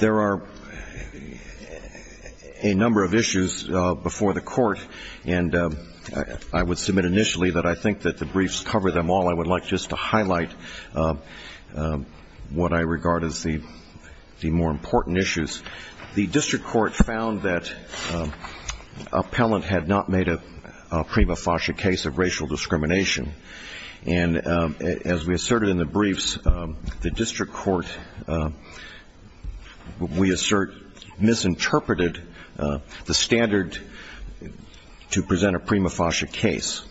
There are a number of issues before the court, and I would submit initially that I think that the briefs cover them all. I would like just to highlight a few of them, and then we'll move on to the next item. I would like to highlight what I regard as the more important issues. The district court found that an appellant had not made a prima facie case of racial discrimination, and as we asserted in the briefs, the district court, we assert, misinterpreted the standard to present a prima facie case.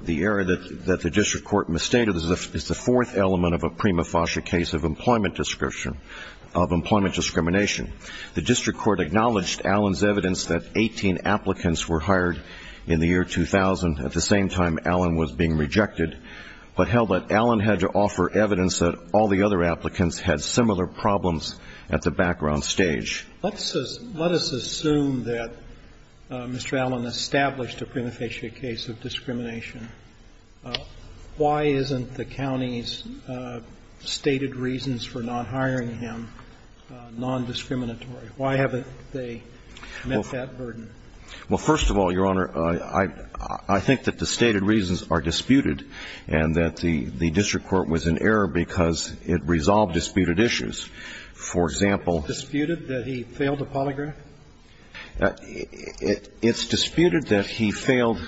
The error that the district court misstated is the fourth element of a prima facie case of employment description, of employment discrimination. The district court acknowledged Allen's evidence that 18 applicants were hired in the year 2000 at the same time Allen was being rejected, but held that Allen had to offer evidence that all the other applicants had similar problems at the background stage. Let's assume that Mr. Allen established a prima facie case of discrimination. Why isn't the county's stated reasons for not hiring him non-discriminatory? Why haven't they met that burden? Well, first of all, Your Honor, I think that the stated reasons are disputed, and that the district court was in error because it resolved disputed issues. For example, it's disputed that he failed a polygraph? It's disputed that he failed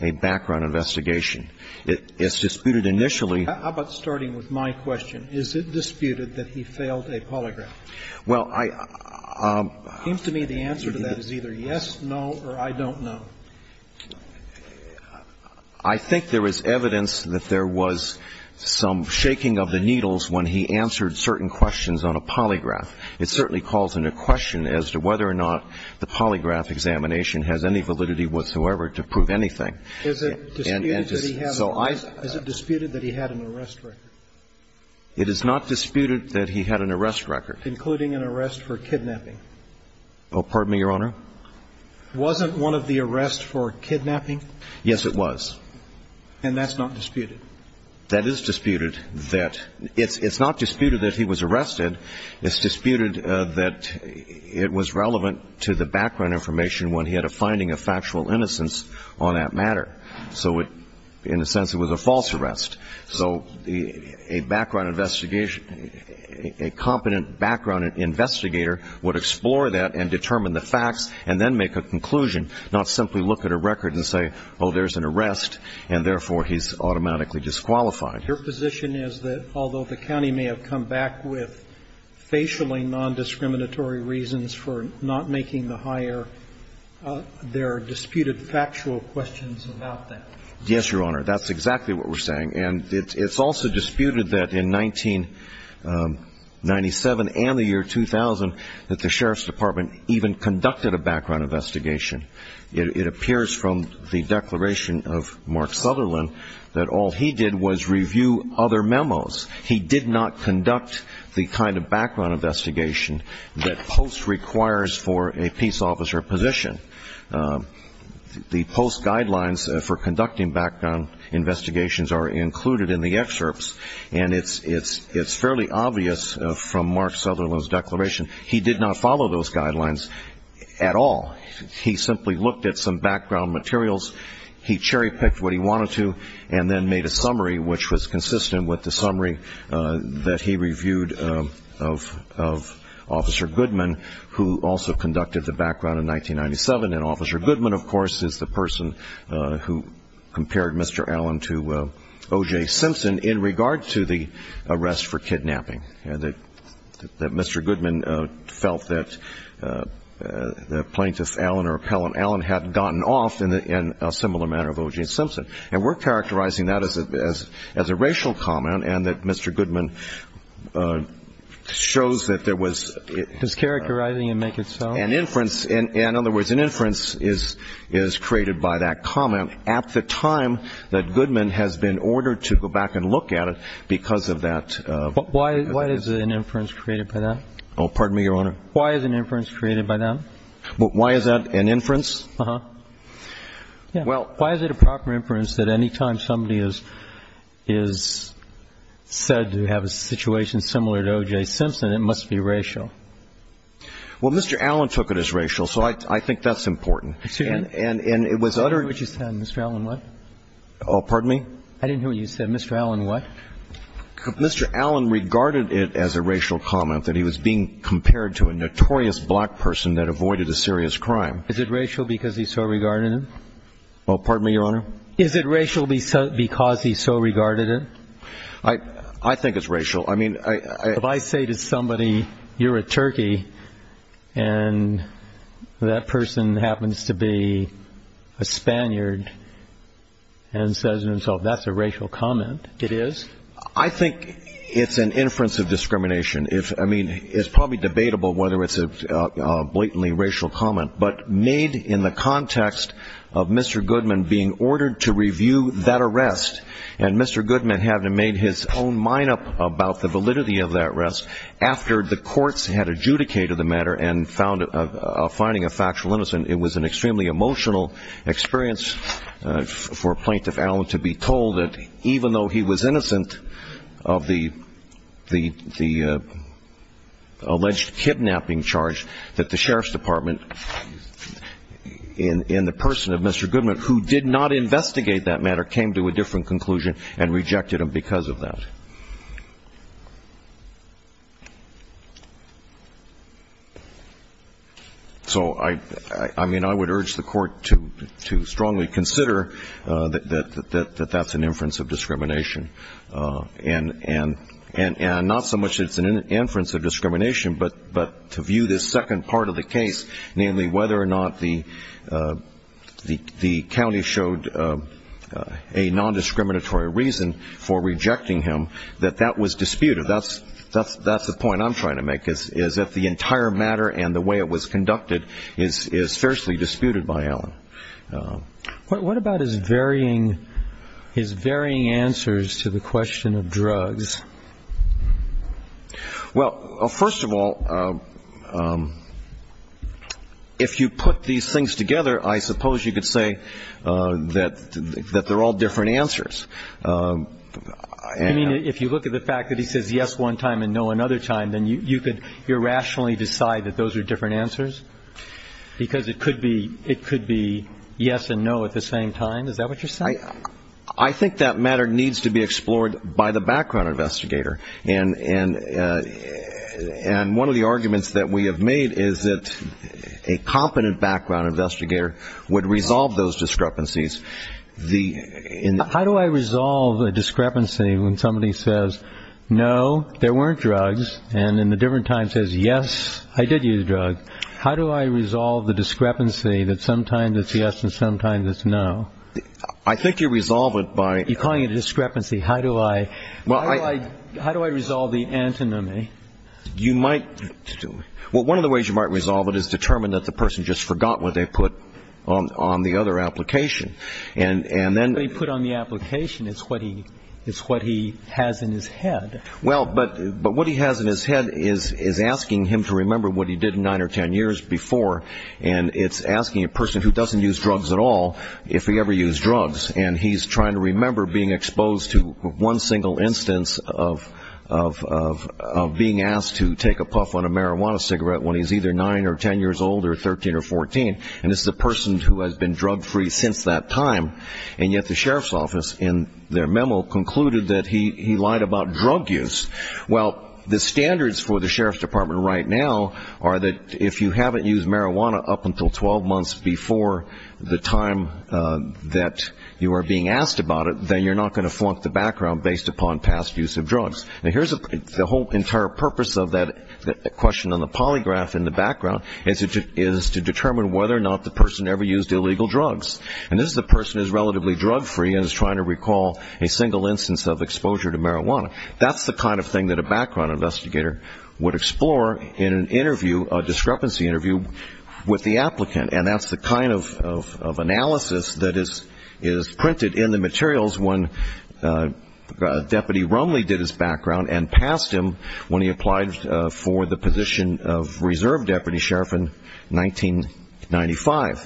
a background investigation. It's disputed initially. How about starting with my question? Is it disputed that he failed a polygraph? Well, I... It seems to me the answer to that is either yes, no, or I don't know. I think there is evidence that there was some shaking of the needles when he answered certain questions on a polygraph. It certainly calls into question as to whether or not the polygraph examination has any validity whatsoever to prove anything. Is it disputed that he had an arrest record? It is not disputed that he had an arrest record. Including an arrest for kidnapping. Pardon me, Your Honor? Wasn't one of the arrests for kidnapping? Yes, it was. And that's not disputed? That is disputed. It's not disputed that he was arrested. It's disputed that it was relevant to the background information when he had a finding of factual innocence on that matter. So in a sense it was a false arrest. So a background investigation, a competent background investigator would explore that and determine the facts and then make a conclusion, not simply look at a record and say, oh, there's an arrest, and therefore he's automatically disqualified. Your position is that although the county may have come back with facially nondiscriminatory reasons for not making the hire, there are disputed factual questions about that? Yes, Your Honor. That's exactly what we're saying. And it's also disputed that in 1997 and the year 2000 that the Sheriff's Department even conducted a background investigation. It appears from the declaration of Mark Sutherland that all he did was review other memos. He did not conduct the kind of background investigation that POST requires for a peace officer position. The POST guidelines for conducting background investigations are included in the excerpts, and it's fairly obvious from Mark Sutherland's declaration he did not follow those guidelines at all. He simply looked at some background materials, he cherry-picked what he wanted to, and then made a summary which was consistent with the summary that he reviewed of Officer Goodman, who also conducted the background in 1997. And Officer Goodman, of course, is the person who compared Mr. Allen to O.J. Simpson in regard to the arrest for kidnapping, that Mr. Goodman felt that Plaintiff Allen or Appellant Allen had gotten off in a similar manner of O.J. Simpson. And we're characterizing that as a racial comment and that Mr. Goodman shows that there was an inference. In other words, an inference is created by that comment at the time that Goodman has been ordered to go back and look at it because of that. Why is an inference created by that? Oh, pardon me, Your Honor. Why is an inference created by that? Why is that an inference? Uh-huh. Well, why is it a proper inference that any time somebody is said to have a situation similar to O.J. Simpson, it must be racial? Well, Mr. Allen took it as racial, so I think that's important. And it was uttered. I didn't hear what you said. Mr. Allen what? Oh, pardon me? I didn't hear what you said. Mr. Allen what? Mr. Allen regarded it as a racial comment that he was being compared to a notorious black person that avoided a serious crime. Is it racial because he so regarded it? Oh, pardon me, Your Honor? Is it racial because he so regarded it? I think it's racial. I mean, I — If I say to somebody, you're a turkey, and that person happens to be a Spaniard and says to himself, that's a racial comment, it is? I think it's an inference of discrimination. I mean, it's probably debatable whether it's a blatantly racial comment. But made in the context of Mr. Goodman being ordered to review that arrest, and Mr. Goodman having made his own mine-up about the validity of that arrest after the courts had adjudicated the matter and finding a factual innocent, it was an extremely emotional experience for Plaintiff Allen to be told that, even though he was innocent of the alleged kidnapping charge, that the sheriff's department in the person of Mr. Goodman, who did not investigate that matter, came to a different conclusion and rejected him because of that. So, I mean, I would urge the Court to strongly consider that that's an inference of discrimination. And not so much that it's an inference of discrimination, but to view this second part of the case, namely whether or not the county showed a nondiscriminatory reason for rejecting him, that that was disputed. That's the point I'm trying to make, is that the entire matter and the way it was conducted is fiercely disputed by Allen. What about his varying answers to the question of drugs? Well, first of all, if you put these things together, I suppose you could say that they're all different answers. I mean, if you look at the fact that he says yes one time and no another time, then you could irrationally decide that those are different answers? Because it could be yes and no at the same time? Is that what you're saying? I think that matter needs to be explored by the background investigator. And one of the arguments that we have made is that a competent background investigator would resolve those discrepancies. How do I resolve a discrepancy when somebody says, no, there weren't drugs, and in a different time says, yes, I did use drugs? How do I resolve the discrepancy that sometimes it's yes and sometimes it's no? I think you resolve it by- You're calling it a discrepancy. How do I resolve the antinomy? Well, one of the ways you might resolve it is determine that the person just forgot what they put on the other application. And then- What he put on the application is what he has in his head. Well, but what he has in his head is asking him to remember what he did nine or ten years before, and it's asking a person who doesn't use drugs at all if he ever used drugs, and he's trying to remember being exposed to one single instance of being asked to take a puff on a marijuana cigarette when he's either nine or ten years old or 13 or 14, and this is a person who has been drug-free since that time, and yet the sheriff's office in their memo concluded that he lied about drug use. Well, the standards for the sheriff's department right now are that if you haven't used marijuana up until 12 months before the time that you are being asked about it, then you're not going to flunk the background based upon past use of drugs. Now, here's the whole entire purpose of that question on the polygraph in the background, is to determine whether or not the person ever used illegal drugs. And this is a person who's relatively drug-free and is trying to recall a single instance of exposure to marijuana. That's the kind of thing that a background investigator would explore in an interview, a discrepancy interview with the applicant, and that's the kind of analysis that is printed in the materials when Deputy Rumley did his background and passed him when he applied for the position of reserve deputy sheriff in 1995.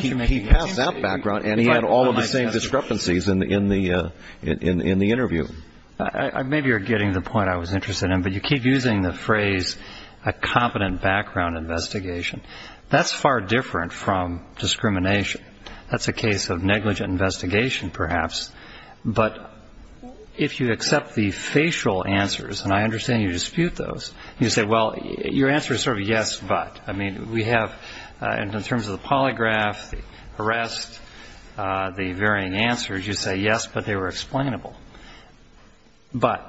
He passed that background, and he had all of the same discrepancies in the interview. Maybe you're getting the point I was interested in, but you keep using the phrase a competent background investigation. That's far different from discrimination. That's a case of negligent investigation, perhaps, but if you accept the facial answers, and I understand you dispute those, you say, well, your answer is sort of yes, but. I mean, we have in terms of the polygraph, the arrest, the varying answers, you say yes, but they were explainable. But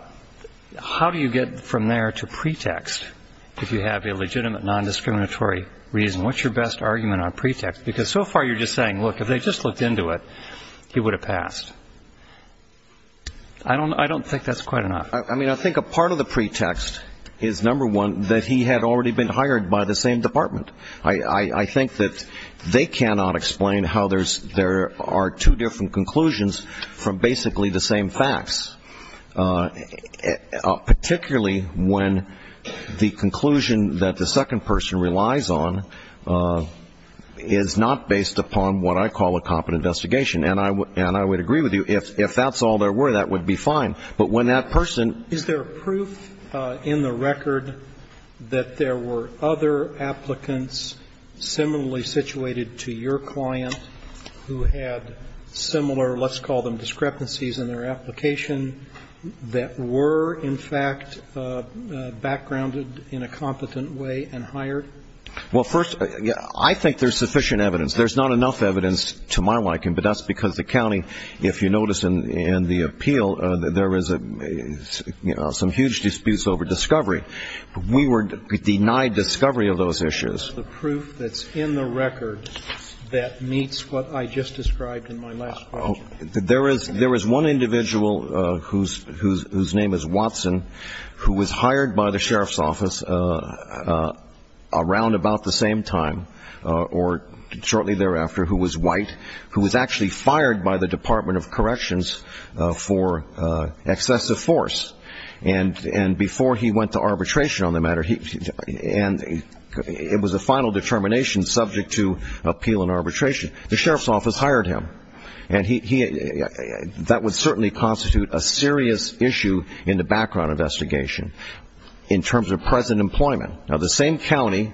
how do you get from there to pretext if you have a legitimate nondiscriminatory background investigation? What's your best argument on pretext? Because so far you're just saying, look, if they just looked into it, he would have passed. I don't think that's quite enough. I mean, I think a part of the pretext is, number one, that he had already been hired by the same department. I think that they cannot explain how there are two different conclusions from basically the same facts, particularly when the conclusion that the second person relies on is not based upon what I call a competent investigation. And I would agree with you, if that's all there were, that would be fine. But when that person ---- Is there proof in the record that there were other applicants similarly situated to your client who had similar, let's call them discrepancies in their application, that were in fact backgrounded in a competent way and hired? Well, first, I think there's sufficient evidence. There's not enough evidence to my liking, but that's because the county, if you notice in the appeal, there is a, you know, some huge disputes over discovery. We were denied discovery of those issues. And I think that's the proof that's in the record that meets what I just described in my last question. There is one individual whose name is Watson who was hired by the sheriff's office around about the same time, or shortly thereafter, who was white, who was actually fired by the Department of Corrections for excessive force. And before he went to arbitration on the matter, and it was a final determination subject to appeal and arbitration, the sheriff's office hired him. And that would certainly constitute a serious issue in the background investigation in terms of present employment. Now, the same county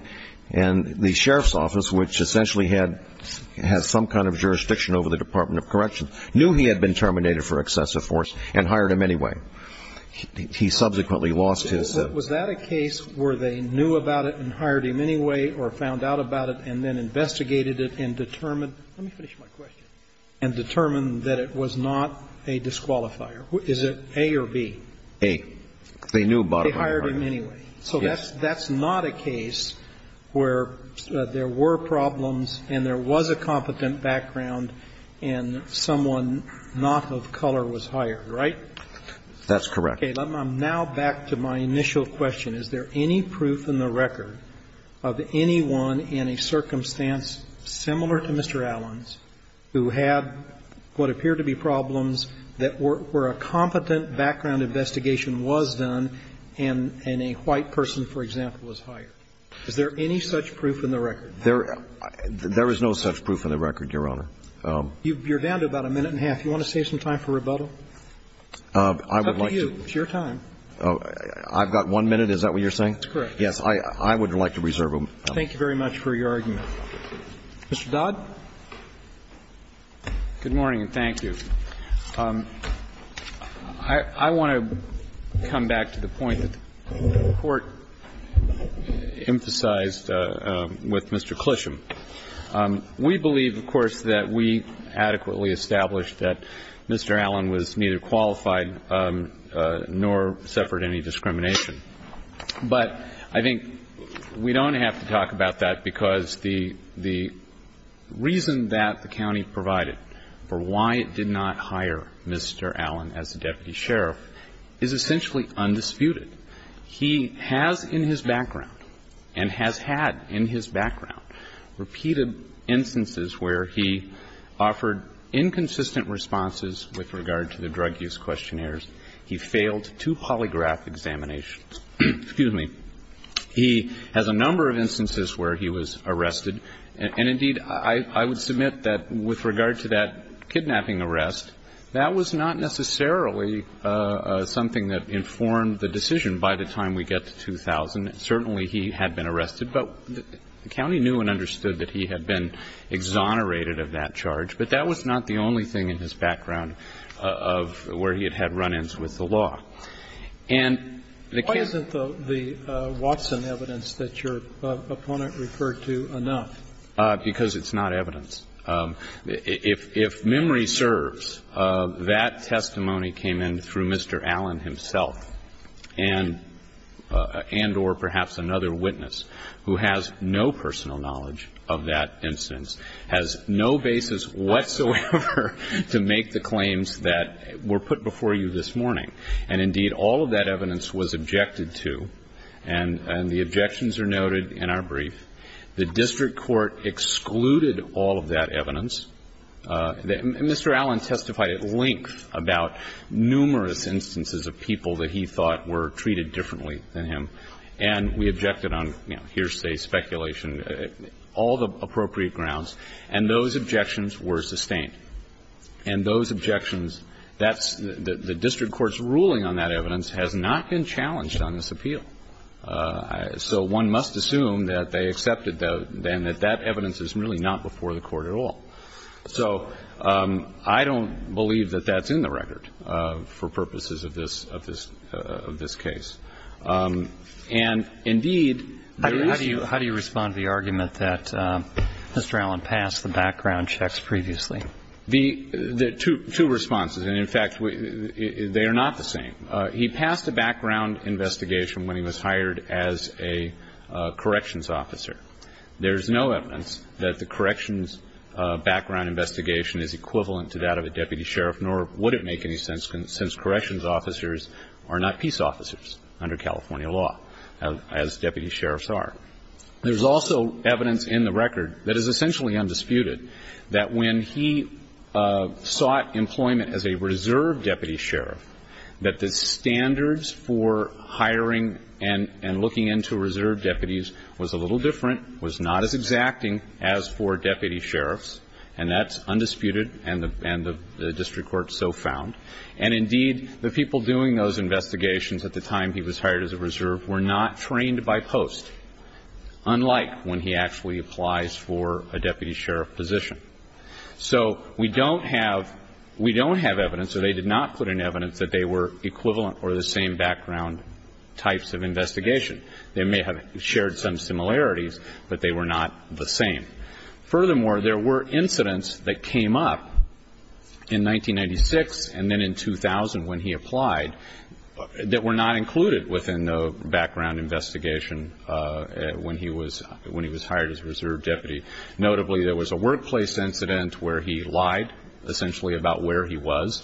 and the sheriff's office, which essentially had some kind of jurisdiction over the Department of Corrections, had a jurisdiction over the Department of Corrections. And so that's not a case where he subsequently lost his job. So was that a case where they knew about it and hired him anyway or found out about it and then investigated it and determined Let me finish my question. And determined that it was not a disqualifier? Is it A or B? A. They knew about it. They hired him anyway. Yes. That's not a case where there were problems and there was a competent background and someone not of color was hired, right? That's correct. Okay. Now back to my initial question. Is there any proof in the record of anyone in a circumstance similar to Mr. Allen's who had what appeared to be problems that were a competent background investigation was done and a white person, for example, was hired? Is there any such proof in the record? There is no such proof in the record, Your Honor. You're down to about a minute and a half. Do you want to save some time for rebuttal? I would like to. It's up to you. It's your time. I've got one minute. Is that what you're saying? That's correct. Yes. I would like to reserve a minute. Thank you very much for your argument. Mr. Dodd? Good morning and thank you. I want to come back to the point that the Court emphasized with Mr. Clisham. We believe, of course, that we adequately established that Mr. Allen was neither qualified nor suffered any discrimination. But I think we don't have to talk about that because the reason that the county provided for why it did not hire Mr. Allen as the deputy sheriff is essentially undisputed. He has in his background, and has had in his background, repeated instances where he offered inconsistent responses with regard to the drug use questionnaires. He failed two polygraph examinations. Excuse me. He has a number of instances where he was arrested. And, indeed, I would submit that with regard to that kidnapping arrest, that was not necessarily something that informed the decision by the time we get to 2000. Certainly he had been arrested, but the county knew and understood that he had been exonerated of that charge. But that was not the only thing in his background of where he had had run-ins with the law. And the case of the ---- But you can't refer to enough. Because it's not evidence. If memory serves, that testimony came in through Mr. Allen himself and or perhaps another witness who has no personal knowledge of that instance, has no basis whatsoever to make the claims that were put before you this morning. And, indeed, all of that evidence was objected to. And the objections are noted in our brief. The district court excluded all of that evidence. Mr. Allen testified at length about numerous instances of people that he thought were treated differently than him. And we objected on, you know, hearsay, speculation, all the appropriate grounds. And those objections were sustained. And those objections, that's the district court's ruling on that evidence has not been challenged on this appeal. So one must assume that they accepted, then, that that evidence is really not before the court at all. So I don't believe that that's in the record for purposes of this case. And, indeed, there is no ---- How do you respond to the argument that Mr. Allen passed the background checks previously? Two responses. And, in fact, they are not the same. He passed a background investigation when he was hired as a corrections officer. There is no evidence that the corrections background investigation is equivalent to that of a deputy sheriff, nor would it make any sense since corrections officers are not peace officers under California law, as deputy sheriffs are. There's also evidence in the record that is essentially undisputed, that when he sought employment as a reserve deputy sheriff, that the standards for hiring and looking into reserve deputies was a little different, was not as exacting as for deputy sheriffs, and that's undisputed and the district court so found. And, indeed, the people doing those investigations at the time he was hired as a reserve were not trained by post, unlike when he actually applies for a deputy sheriff position. So we don't have evidence, or they did not put in evidence, that they were equivalent or the same background types of investigation. They may have shared some similarities, but they were not the same. Furthermore, there were incidents that came up in 1996 and then in 2000 when he applied that were not included within the background investigation when he was hired as a reserve deputy. Notably, there was a workplace incident where he lied, essentially, about where he was.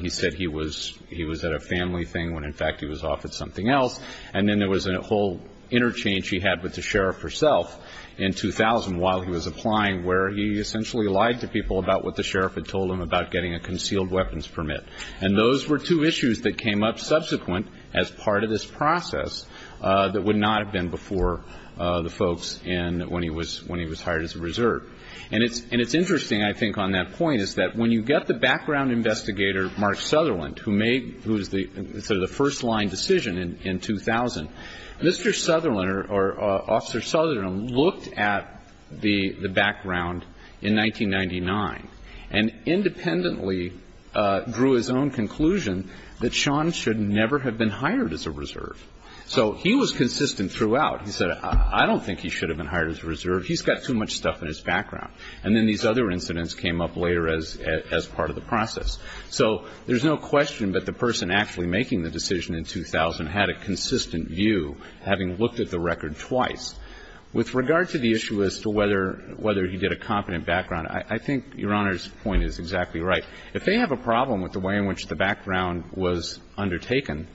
He said he was at a family thing when, in fact, he was off at something else. And then there was a whole interchange he had with the sheriff herself in 2000 while he was applying where he essentially lied to people about what the sheriff had told him about getting a concealed weapons permit. And those were two issues that came up subsequent as part of this process that would not have happened before the folks when he was hired as a reserve. And it's interesting, I think, on that point, is that when you get the background investigator, Mark Sutherland, who made the first-line decision in 2000, Mr. Sutherland or Officer Sutherland looked at the background in 1999 and independently drew his own conclusion that Sean should never have been hired as a reserve. So he was consistent throughout. He said, I don't think he should have been hired as a reserve. He's got too much stuff in his background. And then these other incidents came up later as part of the process. So there's no question that the person actually making the decision in 2000 had a consistent view, having looked at the record twice. With regard to the issue as to whether he did a competent background, I think Your Honor's point is exactly right. If they have a problem with the way in which the background was undertaken,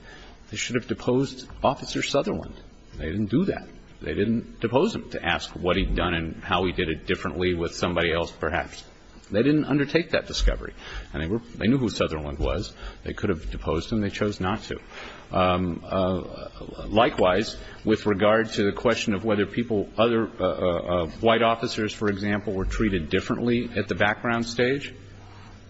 they should have deposed Officer Sutherland. They didn't do that. They didn't depose him to ask what he'd done and how he did it differently with somebody else perhaps. They didn't undertake that discovery. And they knew who Sutherland was. They could have deposed him. They chose not to. Likewise, with regard to the question of whether people, other white officers, for example, were treated differently at the background stage,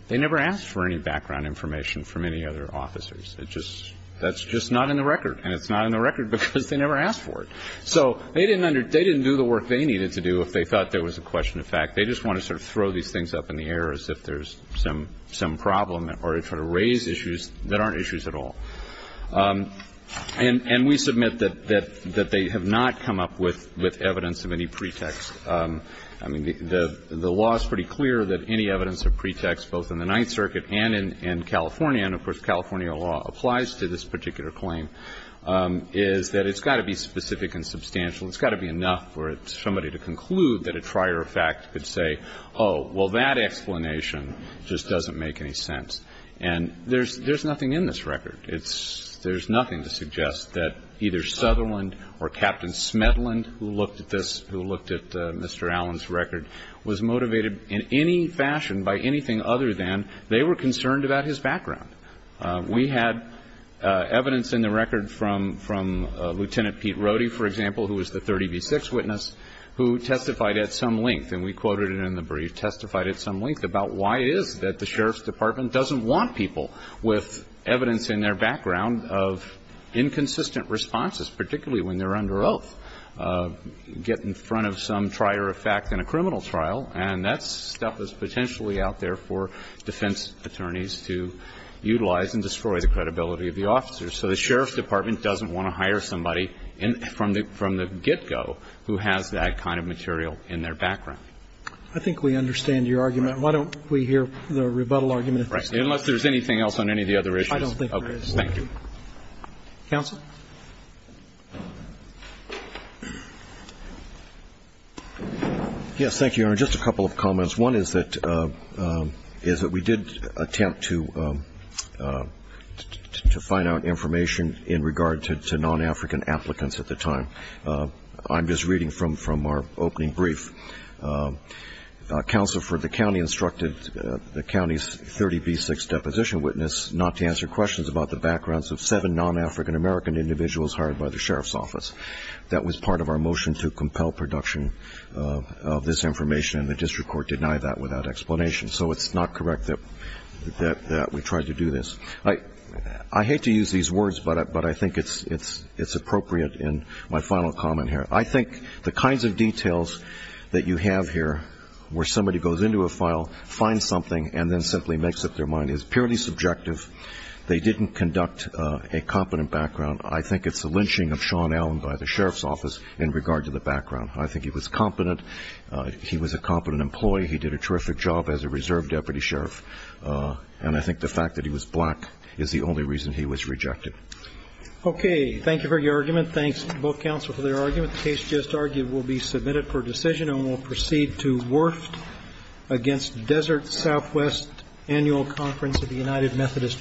they never asked for any background information from any other officers. It just – that's just not in the record. And it's not in the record because they never asked for it. So they didn't under – they didn't do the work they needed to do if they thought there was a question of fact. They just want to sort of throw these things up in the air as if there's some problem or sort of raise issues that aren't issues at all. And we submit that they have not come up with evidence of any pretext. I mean, the law is pretty clear that any evidence of pretext both in the Ninth Circuit and in California, and of course California law applies to this particular claim, is that it's got to be specific and substantial. It's got to be enough for somebody to conclude that a prior fact could say, oh, well, that explanation just doesn't make any sense. And there's nothing in this record. It's – there's nothing to suggest that either Sutherland or Captain Smedland, who looked at this, who looked at Mr. Allen's record, was motivated in any fashion by anything other than they were concerned about his background. We had evidence in the record from Lieutenant Pete Rohde, for example, who was the 30B6 witness, who testified at some length, and we quoted it in the brief, testified at some length about why it is that the Sheriff's Department doesn't want people with evidence in their background of inconsistent responses, particularly when they're under oath, get in front of some trier of fact in a criminal trial. And that stuff is potentially out there for defense attorneys to utilize and destroy the credibility of the officers. So the Sheriff's Department doesn't want to hire somebody from the get-go who has that kind of material in their background. Roberts. I think we understand your argument. Why don't we hear the rebuttal argument? Right. Unless there's anything else on any of the other issues. I don't think there is. Thank you. Counsel. Yes, thank you, Your Honor. Just a couple of comments. One is that we did attempt to find out information in regard to non-African applicants at the time. I'm just reading from our opening brief. Counsel for the county instructed the county's 30B6 deposition witness not to answer questions about the backgrounds of seven non-African American individuals hired by the sheriff's office. That was part of our motion to compel production of this information, and the district court denied that without explanation. So it's not correct that we tried to do this. I hate to use these words, but I think it's appropriate in my final comment here. I think the kinds of details that you have here where somebody goes into a file, finds something, and then simply makes up their mind is purely subjective. They didn't conduct a competent background. I think it's the lynching of Sean Allen by the sheriff's office in regard to the background. I think he was competent. He was a competent employee. He did a terrific job as a reserve deputy sheriff, and I think the fact that he was black is the only reason he was rejected. Okay. Thank you for your argument. Thanks to both counsel for their argument. The case just argued will be submitted for decision and will proceed to Werft against Desert Southwest Annual Conference of the United Methodist Church.